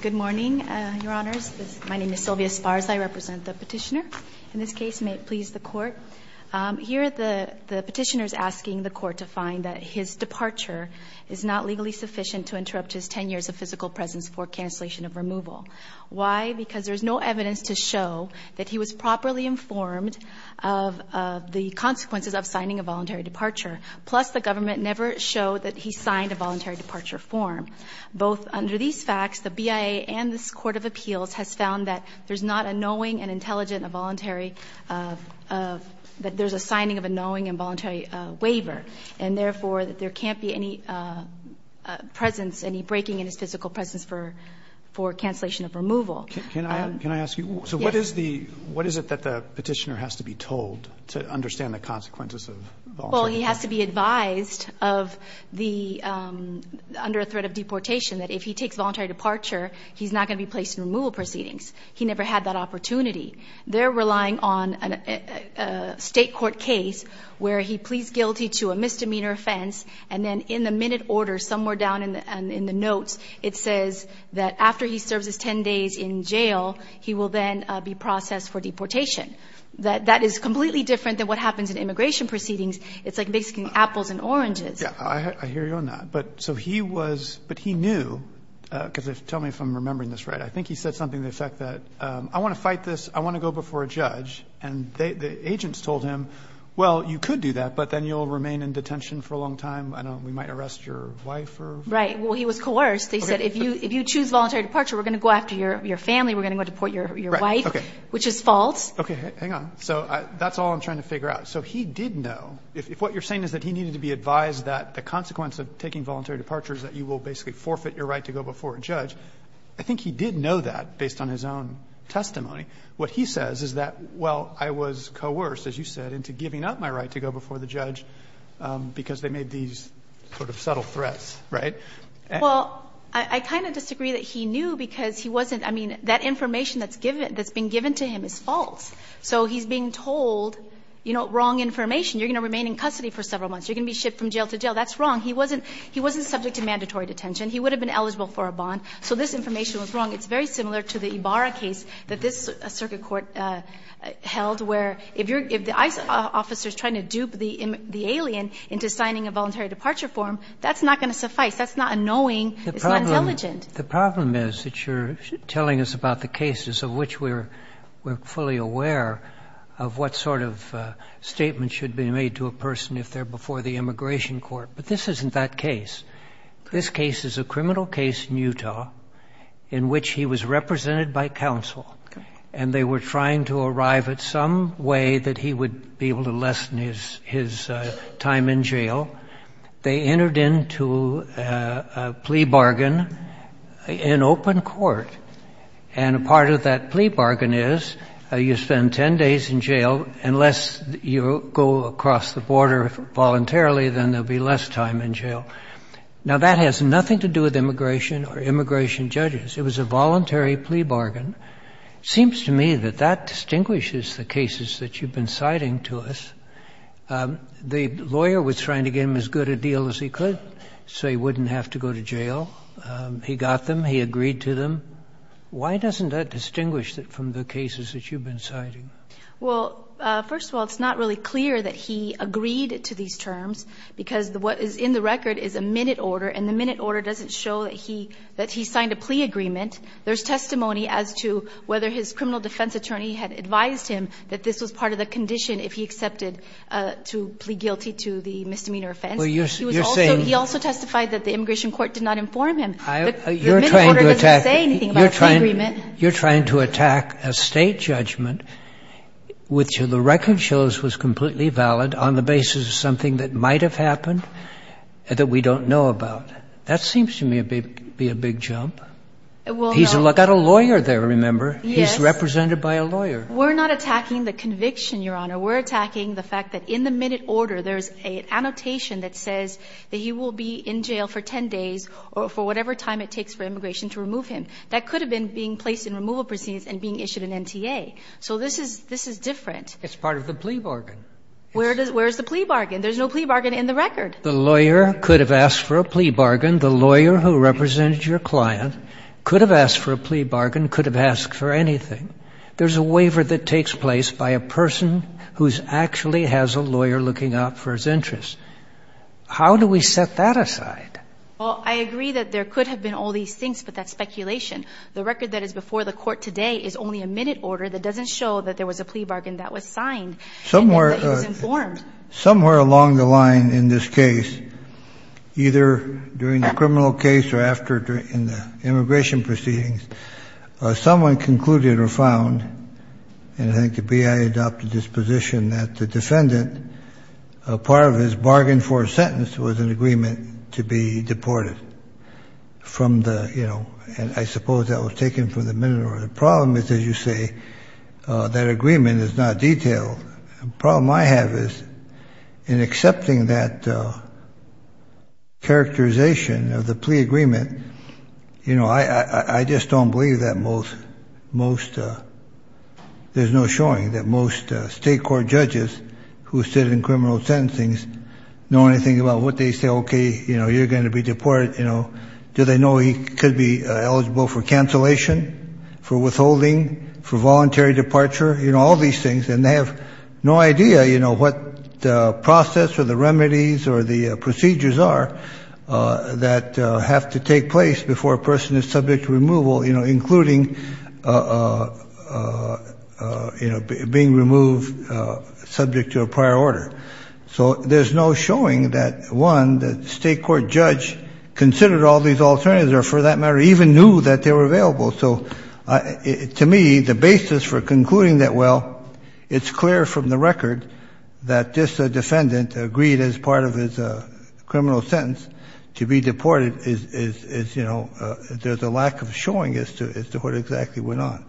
Good morning, Your Honors. My name is Sylvia Spars. I represent the Petitioner. In this case, may it please the Court, here the Petitioner is asking the Court to find that his departure is not legally sufficient to interrupt his 10 years of physical presence for cancellation of removal. Why? Because there is no evidence to show that he was properly informed of the consequences of signing a voluntary departure. Plus, the government never showed that he signed a voluntary departure form. Both under these facts, the BIA and this Court of Appeals has found that there's not a knowing and intelligent voluntary of – that there's a signing of a knowing and voluntary waiver, and therefore, that there can't be any presence, any breaking in his physical presence for cancellation of removal. Can I ask you? Yes. So what is the – what is it that the Petitioner has to be told to understand the consequences of voluntary departure? Well, he has to be advised of the – under a threat of deportation that if he takes voluntary departure, he's not going to be placed in removal proceedings. He never had that opportunity. They're relying on a State court case where he pleads guilty to a misdemeanor offense, and then in the minute order, somewhere down in the notes, it says that after he serves his 10 days in jail, he will then be processed for deportation. That is completely different than what happens in immigration proceedings. It's like basically apples and oranges. Yeah. I hear you on that. But so he was – but he knew – because tell me if I'm remembering this right. I think he said something to the effect that I want to fight this. I want to go before a judge. And the agents told him, well, you could do that, but then you'll remain in detention for a long time. I don't know. We might arrest your wife. Right. Well, he was coerced. They said if you choose voluntary departure, we're going to go after your family. We're going to go deport your wife, which is false. Okay. Hang on. So that's all I'm trying to figure out. So he did know, if what you're saying is that he needed to be advised that the consequence of taking voluntary departure is that you will basically forfeit your right to go before a judge, I think he did know that based on his own testimony. What he says is that, well, I was coerced, as you said, into giving up my right to go before the judge because they made these sort of subtle threats, right? Well, I kind of disagree that he knew because he wasn't – I mean, that information that's given – that's been given to him is false. So he's being told, you know, wrong information. You're going to remain in custody for several months. You're going to be shipped from jail to jail. That's wrong. He wasn't – he wasn't subject to mandatory detention. He would have been eligible for a bond. So this information was wrong. It's very similar to the Ibarra case that this circuit court held, where if you're – if the ICE officer is trying to dupe the alien into signing a voluntary departure form, that's not going to suffice. That's not annoying. It's not intelligent. The problem is that you're telling us about the cases of which we're fully aware of what sort of statement should be made to a person if they're before the immigration court. But this isn't that case. This case is a criminal case in Utah in which he was represented by counsel, and they were trying to arrive at some way that he would be able to lessen his time in jail. They entered into a plea bargain in open court. And a part of that plea bargain is you spend 10 days in jail. Unless you go across the border voluntarily, then there will be less time in jail. Now, that has nothing to do with immigration or immigration judges. It was a voluntary plea bargain. It seems to me that that distinguishes the cases that you've been citing to us. The lawyer was trying to get him as good a deal as he could so he wouldn't have to go to jail. He got them. He agreed to them. Why doesn't that distinguish from the cases that you've been citing? Well, first of all, it's not really clear that he agreed to these terms, because what is in the record is a minute order, and the minute order doesn't show that he signed a plea agreement. There's testimony as to whether his criminal defense attorney had advised him that this was part of the condition if he accepted to plead guilty to the misdemeanor offense. He also testified that the immigration court did not inform him. The minute order doesn't say anything about the plea agreement. You're trying to attack a State judgment which the record shows was completely valid on the basis of something that might have happened that we don't know about. That seems to me to be a big jump. Well, no. Yes. He's represented by a lawyer. We're not attacking the conviction, Your Honor. We're attacking the fact that in the minute order there's an annotation that says that he will be in jail for 10 days or for whatever time it takes for immigration to remove him. That could have been being placed in removal proceedings and being issued an NTA. So this is different. It's part of the plea bargain. Where is the plea bargain? There's no plea bargain in the record. The lawyer could have asked for a plea bargain. The lawyer who represented your client could have asked for a plea bargain, could have asked for anything. There's a waiver that takes place by a person who actually has a lawyer looking out for his interests. How do we set that aside? Well, I agree that there could have been all these things, but that's speculation. The record that is before the Court today is only a minute order that doesn't show that there was a plea bargain that was signed and that he was informed. Somewhere along the line in this case, either during the criminal case or after in the immigration proceedings, someone concluded or found, and I think the BIA adopted this position, that the defendant, part of his bargain for a sentence was an agreement to be deported from the, you know, and I suppose that was taken from the minute order. The problem is, as you say, that agreement is not detailed. The problem I have is in accepting that characterization of the plea agreement, you know, I just don't believe that most, most, there's no showing that most state court judges who sit in criminal sentencings know anything about what they say. Okay, you know, you're going to be deported, you know. Do they know he could be eligible for cancellation, for withholding, for voluntary departure, you know, all these things, and they have no idea, you know, what process or the remedies or the procedures are that have to take place before a person is subject to removal, you know, including, you know, being removed subject to a prior order. So there's no showing that, one, the state court judge considered all these alternatives or for that matter even knew that they were available. So, to me, the basis for concluding that, well, it's clear from the record that this defendant agreed as part of his criminal sentence to be deported is, you know, there's a lack of showing as to what exactly went on.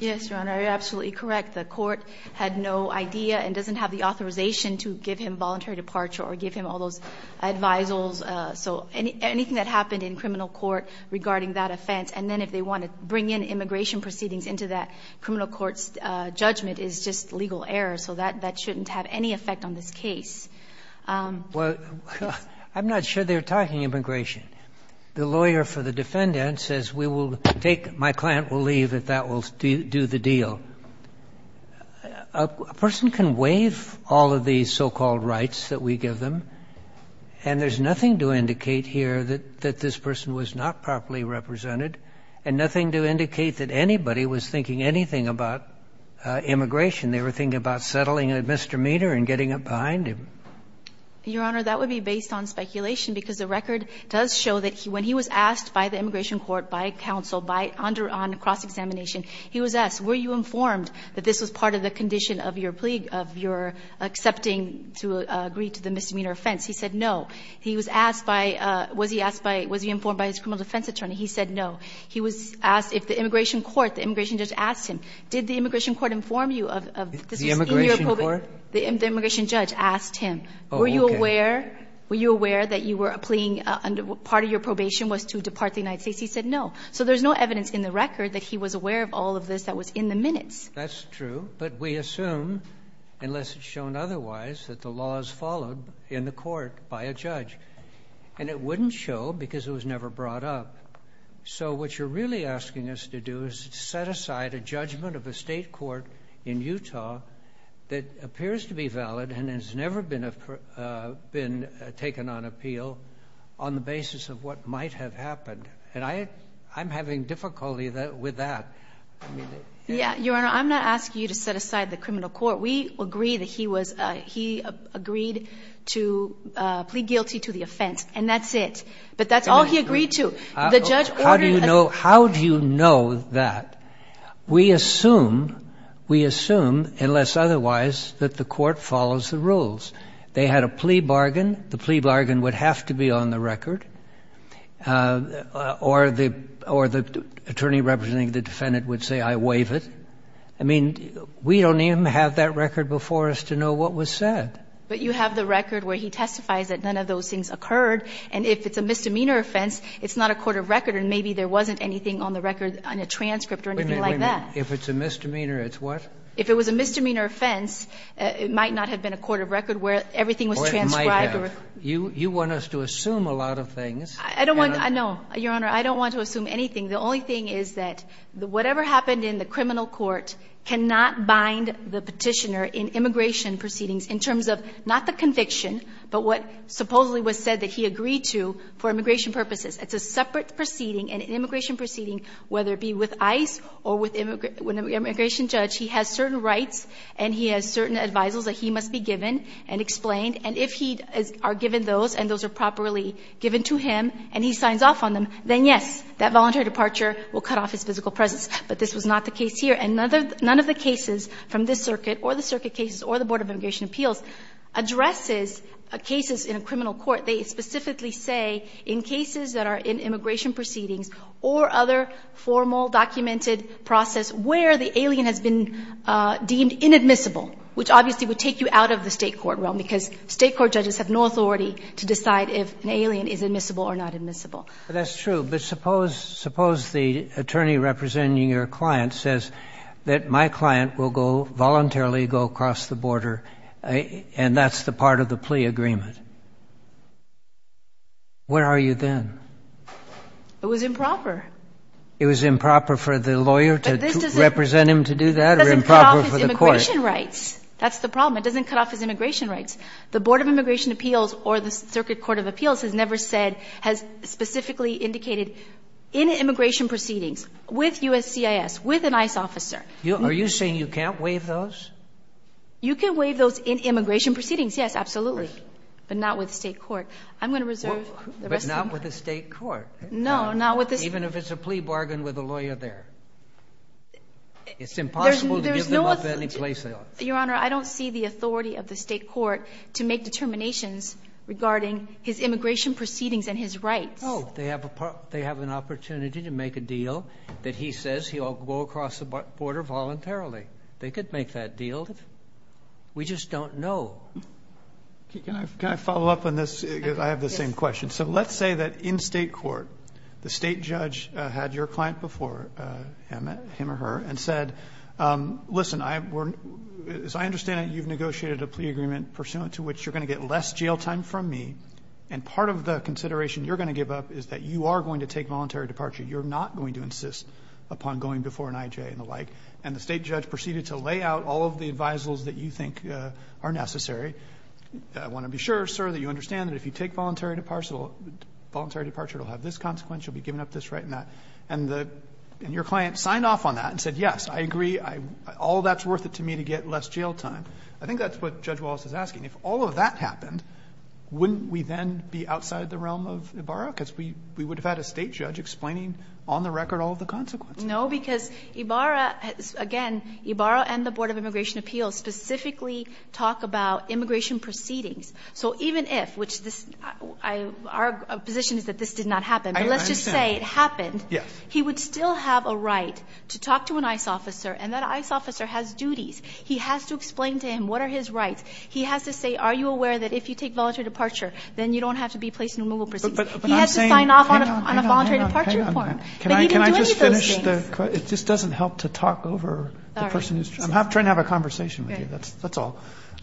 Yes, Your Honor, you're absolutely correct. The court had no idea and doesn't have the authorization to give him voluntary departure or give him all those advisals, so anything that happened in criminal court regarding that offense, and then if they want to bring in immigration proceedings into that criminal court's judgment is just legal error, so that shouldn't have any effect on this case. Well, I'm not sure they're talking immigration. The lawyer for the defendant says we will take my client will leave if that will do the deal. A person can waive all of these so-called rights that we give them, and there's nothing to indicate here that this person was not properly represented and nothing to indicate that anybody was thinking anything about immigration. They were thinking about settling a misdemeanor and getting up behind him. Your Honor, that would be based on speculation, because the record does show that when he was asked by the immigration court, by counsel, on cross-examination, he was asked, were you informed that this was part of the condition of your plea, of your accepting to agree to the misdemeanor offense? He said no. He was asked by, was he asked by, was he informed by his criminal defense attorney? He said no. He was asked if the immigration court, the immigration judge asked him, did the immigration court inform you of this was in your probation? The immigration court? The immigration judge asked him. Oh, okay. Were you aware, were you aware that you were pleading under, part of your probation was to depart the United States? He said no. So there's no evidence in the record that he was aware of all of this that was in the minutes. That's true, but we assume, unless it's shown otherwise, that the law is followed in the court by a judge. And it wouldn't show because it was never brought up. So what you're really asking us to do is set aside a judgment of a state court in Utah that appears to be valid and has never been taken on appeal on the basis of what might have happened. And I'm having difficulty with that. Your Honor, I'm not asking you to set aside the criminal court. We agree that he agreed to plead guilty to the offense, and that's it. But that's all he agreed to. How do you know that? We assume, unless otherwise, that the court follows the rules. They had a plea bargain. The plea bargain would have to be on the record. Or the attorney representing the defendant would say, I waive it. I mean, we don't even have that record before us to know what was said. But you have the record where he testifies that none of those things occurred. And if it's a misdemeanor offense, it's not a court of record, and maybe there wasn't anything on the record on a transcript or anything like that. Wait a minute. If it's a misdemeanor, it's what? If it was a misdemeanor offense, it might not have been a court of record where everything was transcribed. You want us to assume a lot of things. I don't want to. No, Your Honor, I don't want to assume anything. The only thing is that whatever happened in the criminal court cannot bind the petitioner in immigration proceedings in terms of not the conviction, but what supposedly was said that he agreed to for immigration purposes. It's a separate proceeding, an immigration proceeding, whether it be with ICE or with an immigration judge. He has certain rights, and he has certain advisals that he must be given and explained. And if he are given those, and those are properly given to him, and he signs off on them, then, yes, that voluntary departure will cut off his physical presence. But this was not the case here. And none of the cases from this circuit or the circuit cases or the Board of Immigration Appeals addresses cases in a criminal court. They specifically say in cases that are in immigration proceedings or other formal documented process where the alien has been deemed inadmissible, which obviously would take you out of the state court realm because state court judges have no authority to decide if an alien is admissible or not admissible. But that's true. But suppose the attorney representing your client says that my client will go voluntarily go across the border, and that's the part of the plea agreement. Where are you then? It was improper. It was improper for the lawyer to represent him to do that or improper for the court? Immigration rights. That's the problem. It doesn't cut off his immigration rights. The Board of Immigration Appeals or the Circuit Court of Appeals has never said has specifically indicated in immigration proceedings with USCIS, with an ICE officer. Are you saying you can't waive those? You can waive those in immigration proceedings, yes, absolutely, but not with state court. I'm going to reserve the rest of my time. But not with the state court. No, not with the state court. Even if it's a plea bargain with the lawyer there. It's impossible to give them up any place else. Your Honor, I don't see the authority of the state court to make determinations regarding his immigration proceedings and his rights. Oh, they have an opportunity to make a deal that he says he'll go across the border voluntarily. They could make that deal. We just don't know. Can I follow up on this? I have the same question. So let's say that in state court, the state judge had your client before him or her and said, listen, as I understand it, you've negotiated a plea agreement pursuant to which you're going to get less jail time from me. And part of the consideration you're going to give up is that you are going to take voluntary departure. You're not going to insist upon going before an IJ and the like. And the state judge proceeded to lay out all of the advisals that you think are necessary. I want to be sure, sir, that you understand that if you take voluntary departure, it will have this consequence. You'll be giving up this right and that. And your client signed off on that and said, yes, I agree. All that's worth it to me to get less jail time. I think that's what Judge Wallace is asking. If all of that happened, wouldn't we then be outside the realm of Ibarra? Because we would have had a state judge explaining on the record all of the consequences. No, because Ibarra, again, Ibarra and the Board of Immigration Appeals specifically talk about immigration proceedings. So even if, which this, our position is that this did not happen, but let's just say it happened. Yes. He would still have a right to talk to an ICE officer, and that ICE officer has duties. He has to explain to him what are his rights. He has to say, are you aware that if you take voluntary departure, then you don't have to be placed in removal proceedings. But I'm saying, hang on, hang on. He has to sign off on a voluntary departure form. But he can do any of those things. Can I just finish the question? It just doesn't help to talk over the person who's trying to have a conversation with you, that's all.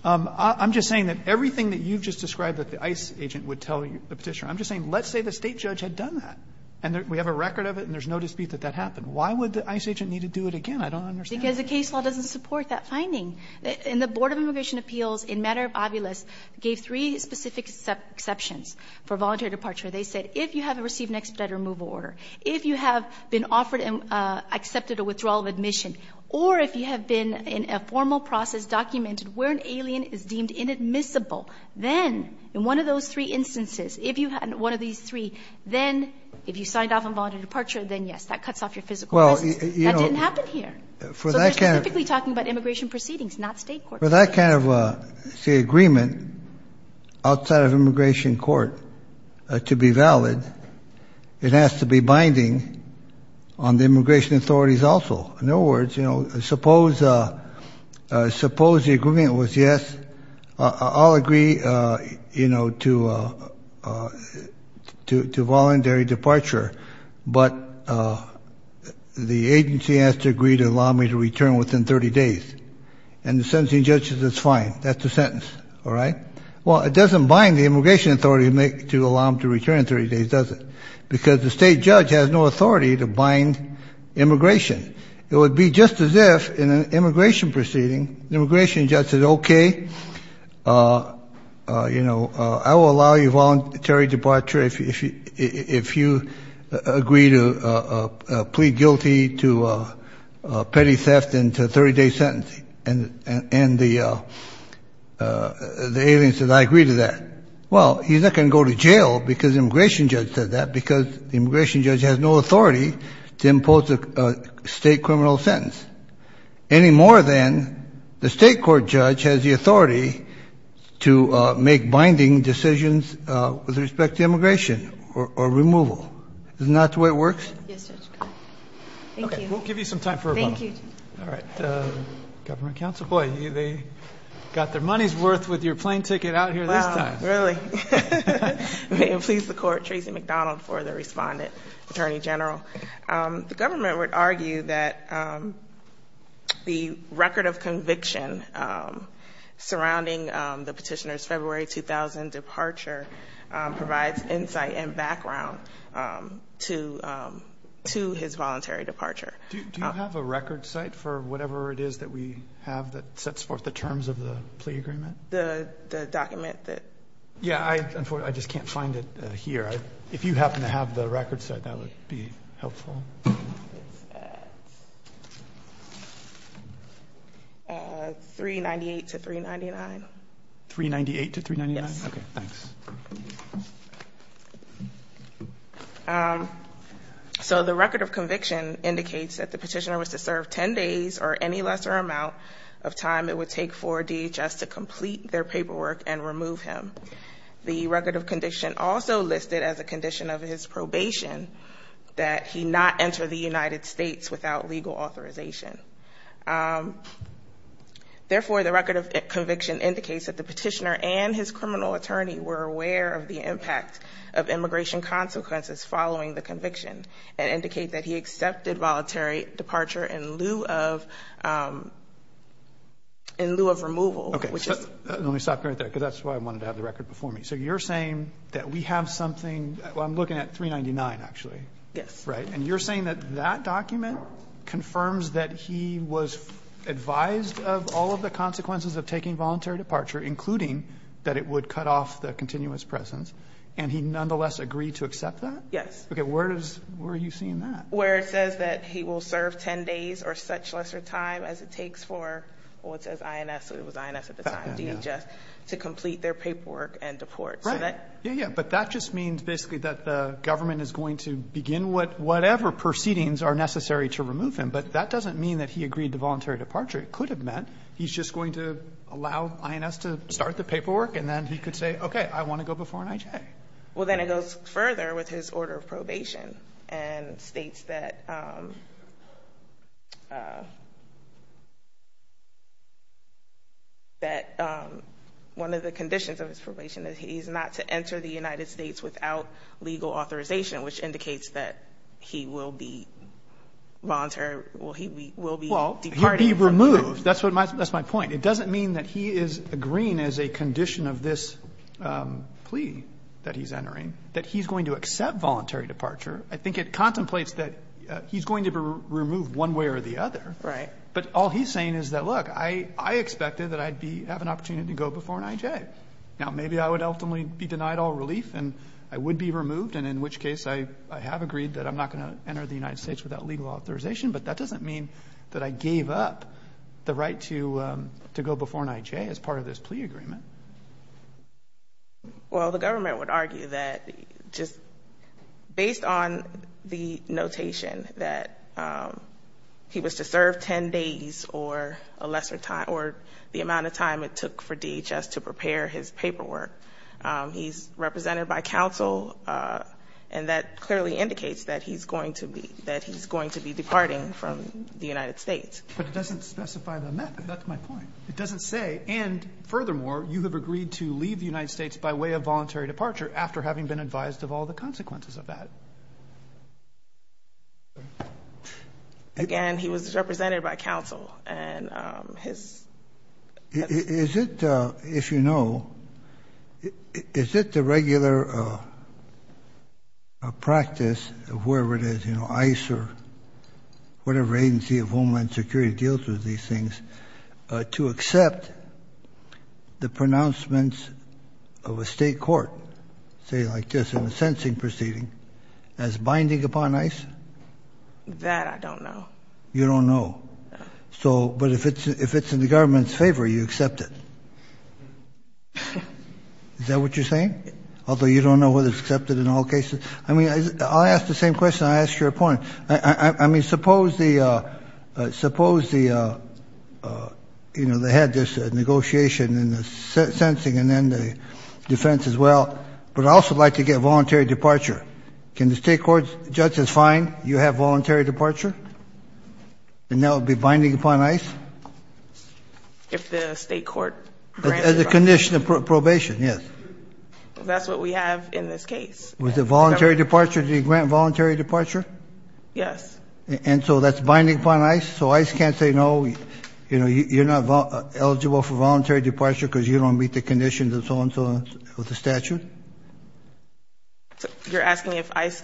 I'm just saying that everything that you've just described that the ICE agent would tell the Petitioner, I'm just saying let's say the state judge had done that, and we have a record of it, and there's no dispute that that happened. Why would the ICE agent need to do it again? I don't understand. Because the case law doesn't support that finding. And the Board of Immigration Appeals, in matter of obvious, gave three specific exceptions for voluntary departure. They said if you have received an expedited removal order, if you have been offered and accepted a withdrawal of admission, or if you have been in a formal process documented where an alien is deemed inadmissible, then in one of those three instances, if you had one of these three, then if you signed off on voluntary departure, then, yes, that cuts off your physical residence. That didn't happen here. So they're specifically talking about immigration proceedings, not State courts. For that kind of, say, agreement outside of immigration court to be valid, it has to be binding on the immigration authorities also. In other words, suppose the agreement was, yes, I'll agree to voluntary departure, but the agency has to agree to allow me to return within 30 days. And the sentencing judge says it's fine. That's the sentence. All right? Well, it doesn't bind the immigration authority to allow him to return in 30 days, does it? Because the State judge has no authority to bind immigration. It would be just as if, in an immigration proceeding, the immigration judge said, okay, you know, I will allow you voluntary departure if you agree to plead guilty to petty theft and to a 30-day sentencing. And the alien says, I agree to that. Well, he's not going to go to jail because the immigration judge said that, because the immigration judge has no authority to impose a State criminal sentence, any more than the State court judge has the authority to make binding decisions with respect to immigration or removal. Isn't that the way it works? Yes, Judge. Thank you. We'll give you some time for a moment. Thank you. All right. Government counsel, boy, they got their money's worth with your plane ticket out here this time. Really? May it please the Court, Tracy McDonald for the respondent, Attorney General. The government would argue that the record of conviction surrounding the petitioner's February 2000 departure provides insight and background to his voluntary departure. Do you have a record site for whatever it is that we have that sets forth the terms of the plea agreement? The document that? Yeah, I just can't find it here. If you happen to have the record site, that would be helpful. 398 to 399. 398 to 399? Yes. Okay, thanks. So the record of conviction indicates that the petitioner was to serve 10 days or any lesser amount of time it would take for DHS to complete their paperwork and remove him. The record of conviction also listed as a condition of his probation that he not enter the United States without legal authorization. Therefore, the record of conviction indicates that the petitioner and his criminal attorney were aware of the impact of immigration consequences following the conviction and indicate that he accepted voluntary departure in lieu of removal. Okay. Let me stop you right there because that's why I wanted to have the record before me. So you're saying that we have something, I'm looking at 399 actually. Yes. Right? And you're saying that that document confirms that he was advised of all of the consequences of taking voluntary departure, including that it would cut off the continuous presence, and he nonetheless agreed to accept that? Yes. Okay. Where are you seeing that? Where it says that he will serve 10 days or such lesser time as it takes for, well, it says INS, so it was INS at the time, DHS, to complete their paperwork and deport. Right. Yeah, yeah. But that just means basically that the government is going to begin whatever proceedings are necessary to remove him, but that doesn't mean that he agreed to voluntary departure. It could have meant he's just going to allow INS to start the paperwork, and then he could say, okay, I want to go before an IJ. Okay. Well, then it goes further with his order of probation and states that one of the conditions of his probation is he's not to enter the United States without legal authorization, which indicates that he will be voluntary, he will be departed. Well, he'll be removed. That's my point. It doesn't mean that he is agreeing as a condition of this plea that he's entering that he's going to accept voluntary departure. I think it contemplates that he's going to be removed one way or the other. Right. But all he's saying is that, look, I expected that I'd be, have an opportunity to go before an IJ. Now, maybe I would ultimately be denied all relief and I would be removed, and in which case I have agreed that I'm not going to enter the United States without legal authorization, but that doesn't mean that I gave up the right to go before an IJ as part of this plea agreement. Well, the government would argue that just based on the notation that he was to serve 10 days or a lesser time, or the amount of time it took for DHS to prepare his paperwork, he's represented by counsel, and that clearly indicates that he's going to be, that he's going to be departing from the United States. But it doesn't specify the method. That's my point. It doesn't say, and furthermore, you have agreed to leave the United States by way of voluntary departure after having been advised of all the consequences of that. Again, he was represented by counsel. Is it, if you know, is it the regular practice of wherever it is, ICE or whatever agency of Homeland Security deals with these things, to accept the pronouncements of a state court, say like this, in a sentencing proceeding, as binding upon ICE? That I don't know. You don't know. So, but if it's in the government's favor, you accept it. Is that what you're saying? Although you don't know whether it's accepted in all cases? I mean, I'll ask the same question I asked your opponent. I mean, suppose the, you know, they had this negotiation in the sentencing and then the defense as well, but I'd also like to get voluntary departure. Can the state court judge as fine, you have voluntary departure? And that would be binding upon ICE? If the state court granted it. As a condition of probation, yes. That's what we have in this case. Was it voluntary departure? Did he grant voluntary departure? Yes. And so that's binding upon ICE? So ICE can't say no, you know, you're not eligible for voluntary departure because you don't meet the conditions and so on and so on with the statute? You're asking if ICE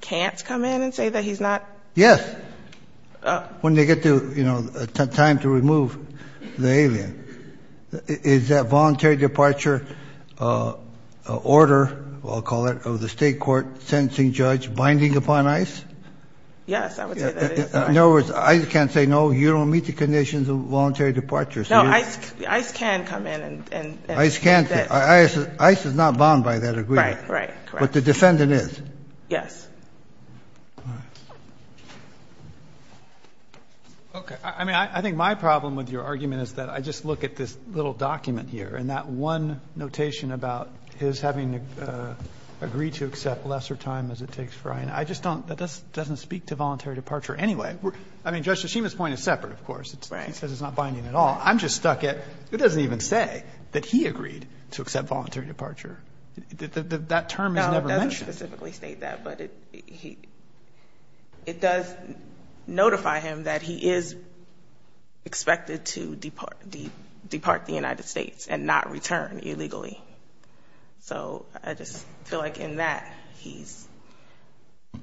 can't come in and say that he's not? Yes. When they get to, you know, time to remove the alien. Is that voluntary departure order, I'll call it, of the state court sentencing judge binding upon ICE? Yes, I would say that it is. In other words, ICE can't say no, you don't meet the conditions of voluntary departure. No, ICE can come in. ICE can't say. ICE is not bound by that agreement. Right, right. But the defendant is. Yes. Okay. I mean, I think my problem with your argument is that I just look at this little document here and that one notation about his having to agree to accept lesser time as it takes for INA. I just don't, that doesn't speak to voluntary departure anyway. I mean, Judge Tshishima's point is separate, of course. Right. He says it's not binding at all. I'm just stuck at, it doesn't even say that he agreed to accept voluntary departure. That term is never mentioned. No, it doesn't specifically state that. But it does notify him that he is expected to depart the United States and not return illegally. So I just feel like in that he's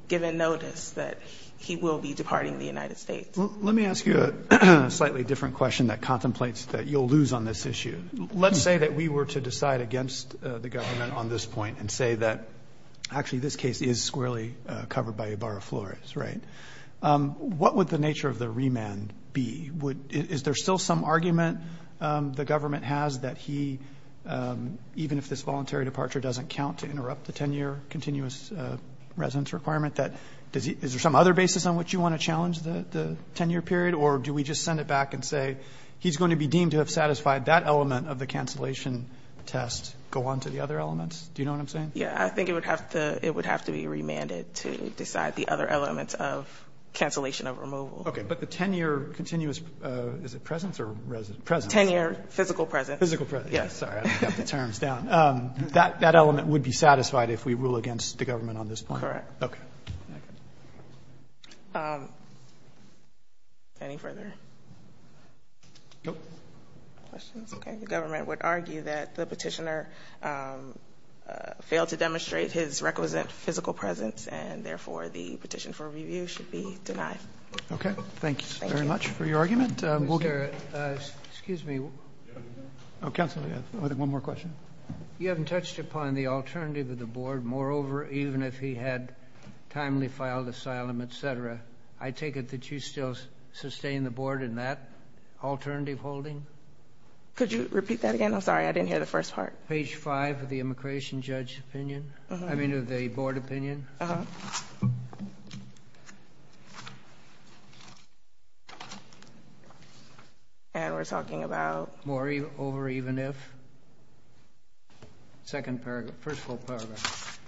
given notice that he will be departing the United States. Well, let me ask you a slightly different question that contemplates that you'll lose on this issue. Let's say that we were to decide against the government on this point and say that actually this case is squarely covered by Ebarra-Flores, right? What would the nature of the remand be? Is there still some argument the government has that he, even if this voluntary departure doesn't count to interrupt the 10-year continuous residence requirement, that is there some other basis on which you want to challenge the 10-year period? Or do we just send it back and say he's going to be deemed to have satisfied that element of the cancellation test, go on to the other elements? Do you know what I'm saying? Yeah. I think it would have to be remanded to decide the other elements of cancellation of removal. Okay. But the 10-year continuous, is it presence or residence? Presence. 10-year physical presence. Physical presence. Yeah. Sorry. I don't have the terms down. That element would be satisfied if we rule against the government on this point? Correct. Okay. Any further questions? Okay. The government would argue that the petitioner failed to demonstrate his requisite physical presence and, therefore, the petition for review should be denied. Okay. Thank you very much for your argument. Mr. Garrett, excuse me. Counsel, we have one more question. You haven't touched upon the alternative of the board. Moreover, even if he had timely filed asylum, et cetera, I take it that you still sustain the board in that alternative holding? Could you repeat that again? I'm sorry. I didn't hear the first part. Page 5 of the immigration judge opinion. I mean, of the board opinion. Uh-huh. And we're talking about? Moreover, even if? Second paragraph. First full paragraph.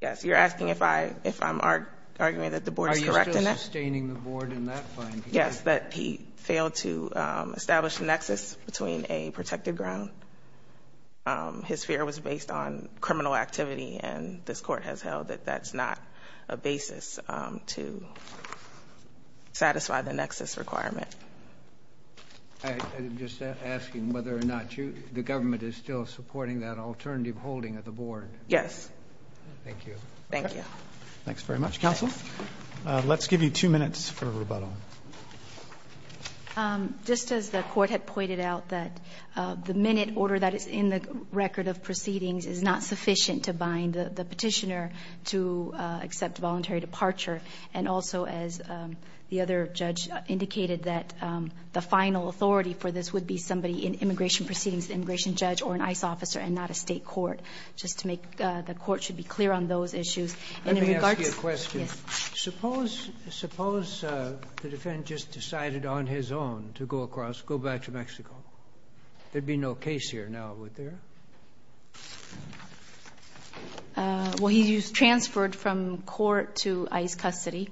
Yes. You're asking if I'm arguing that the board is correct in that? Are you still sustaining the board in that finding? Yes. That he failed to establish a nexus between a protected ground. His fear was based on criminal activity, and this court has held that that's not a basis to satisfy the nexus requirement. I'm just asking whether or not the government is still supporting that alternative holding of the board. Yes. Thank you. Thank you. Thanks very much. Counsel, let's give you two minutes for rebuttal. Just as the court had pointed out that the minute order that is in the record of proceedings is not sufficient to bind the petitioner to accept voluntary departure, and also as the other judge indicated that the final authority for this would be somebody in immigration proceedings, the immigration judge or an ICE officer and not a state court. Just to make the court should be clear on those issues. Let me ask you a question. Yes. Suppose the defendant just decided on his own to go across, go back to Mexico. There'd be no case here now, would there? Well, he's transferred from court to ICE custody.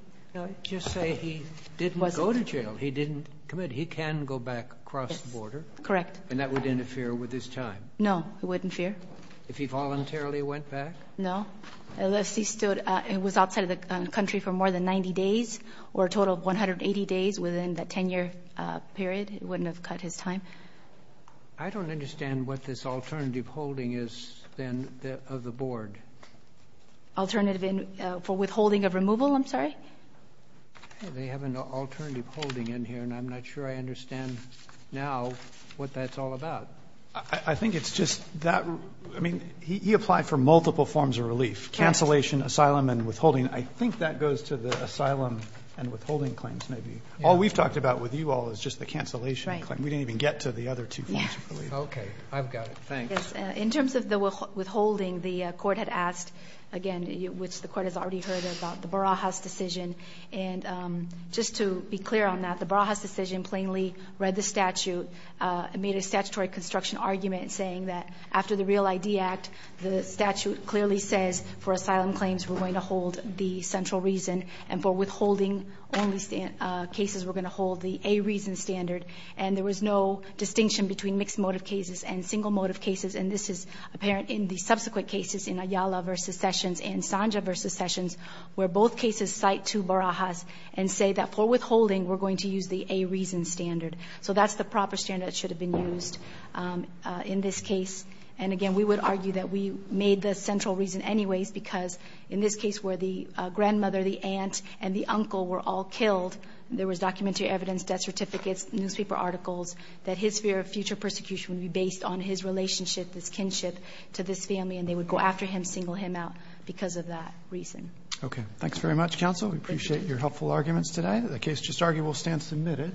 Just say he didn't go to jail. He didn't commit. He can go back across the border. Correct. And that would interfere with his time. No, it wouldn't interfere. If he voluntarily went back? No, unless he stood outside of the country for more than 90 days or a total of 180 days within that 10-year period, it wouldn't have cut his time. I don't understand what this alternative holding is then of the board. Alternative for withholding of removal, I'm sorry? They have an alternative holding in here, and I'm not sure I understand now what that's all about. I think it's just that he applied for multiple forms of relief, cancellation, asylum, and withholding. I think that goes to the asylum and withholding claims maybe. All we've talked about with you all is just the cancellation claim. We didn't even get to the other two forms of relief. Okay. I've got it. Thanks. In terms of the withholding, the Court had asked, again, which the Court has already heard about, the Barajas decision. And just to be clear on that, the Barajas decision plainly read the statute, made a statutory construction argument saying that after the Real ID Act, the statute clearly says for asylum claims we're going to hold the central reason, and for withholding only cases we're going to hold the A reason standard. And there was no distinction between mixed motive cases and single motive cases. And this is apparent in the subsequent cases, in Ayala v. Sessions and Sanja v. Sessions, where both cases cite two Barajas and say that for withholding we're going to use the A reason standard. So that's the proper standard that should have been used in this case. And, again, we would argue that we made the central reason anyways, because in this case where the grandmother, the aunt, and the uncle were all killed, there was documentary evidence, death certificates, newspaper articles, that his fear of future persecution would be based on his relationship, this kinship to this family, and they would go after him, single him out because of that reason. Okay. Thanks very much, counsel. We appreciate your helpful arguments today. The case just argued will stand submitted.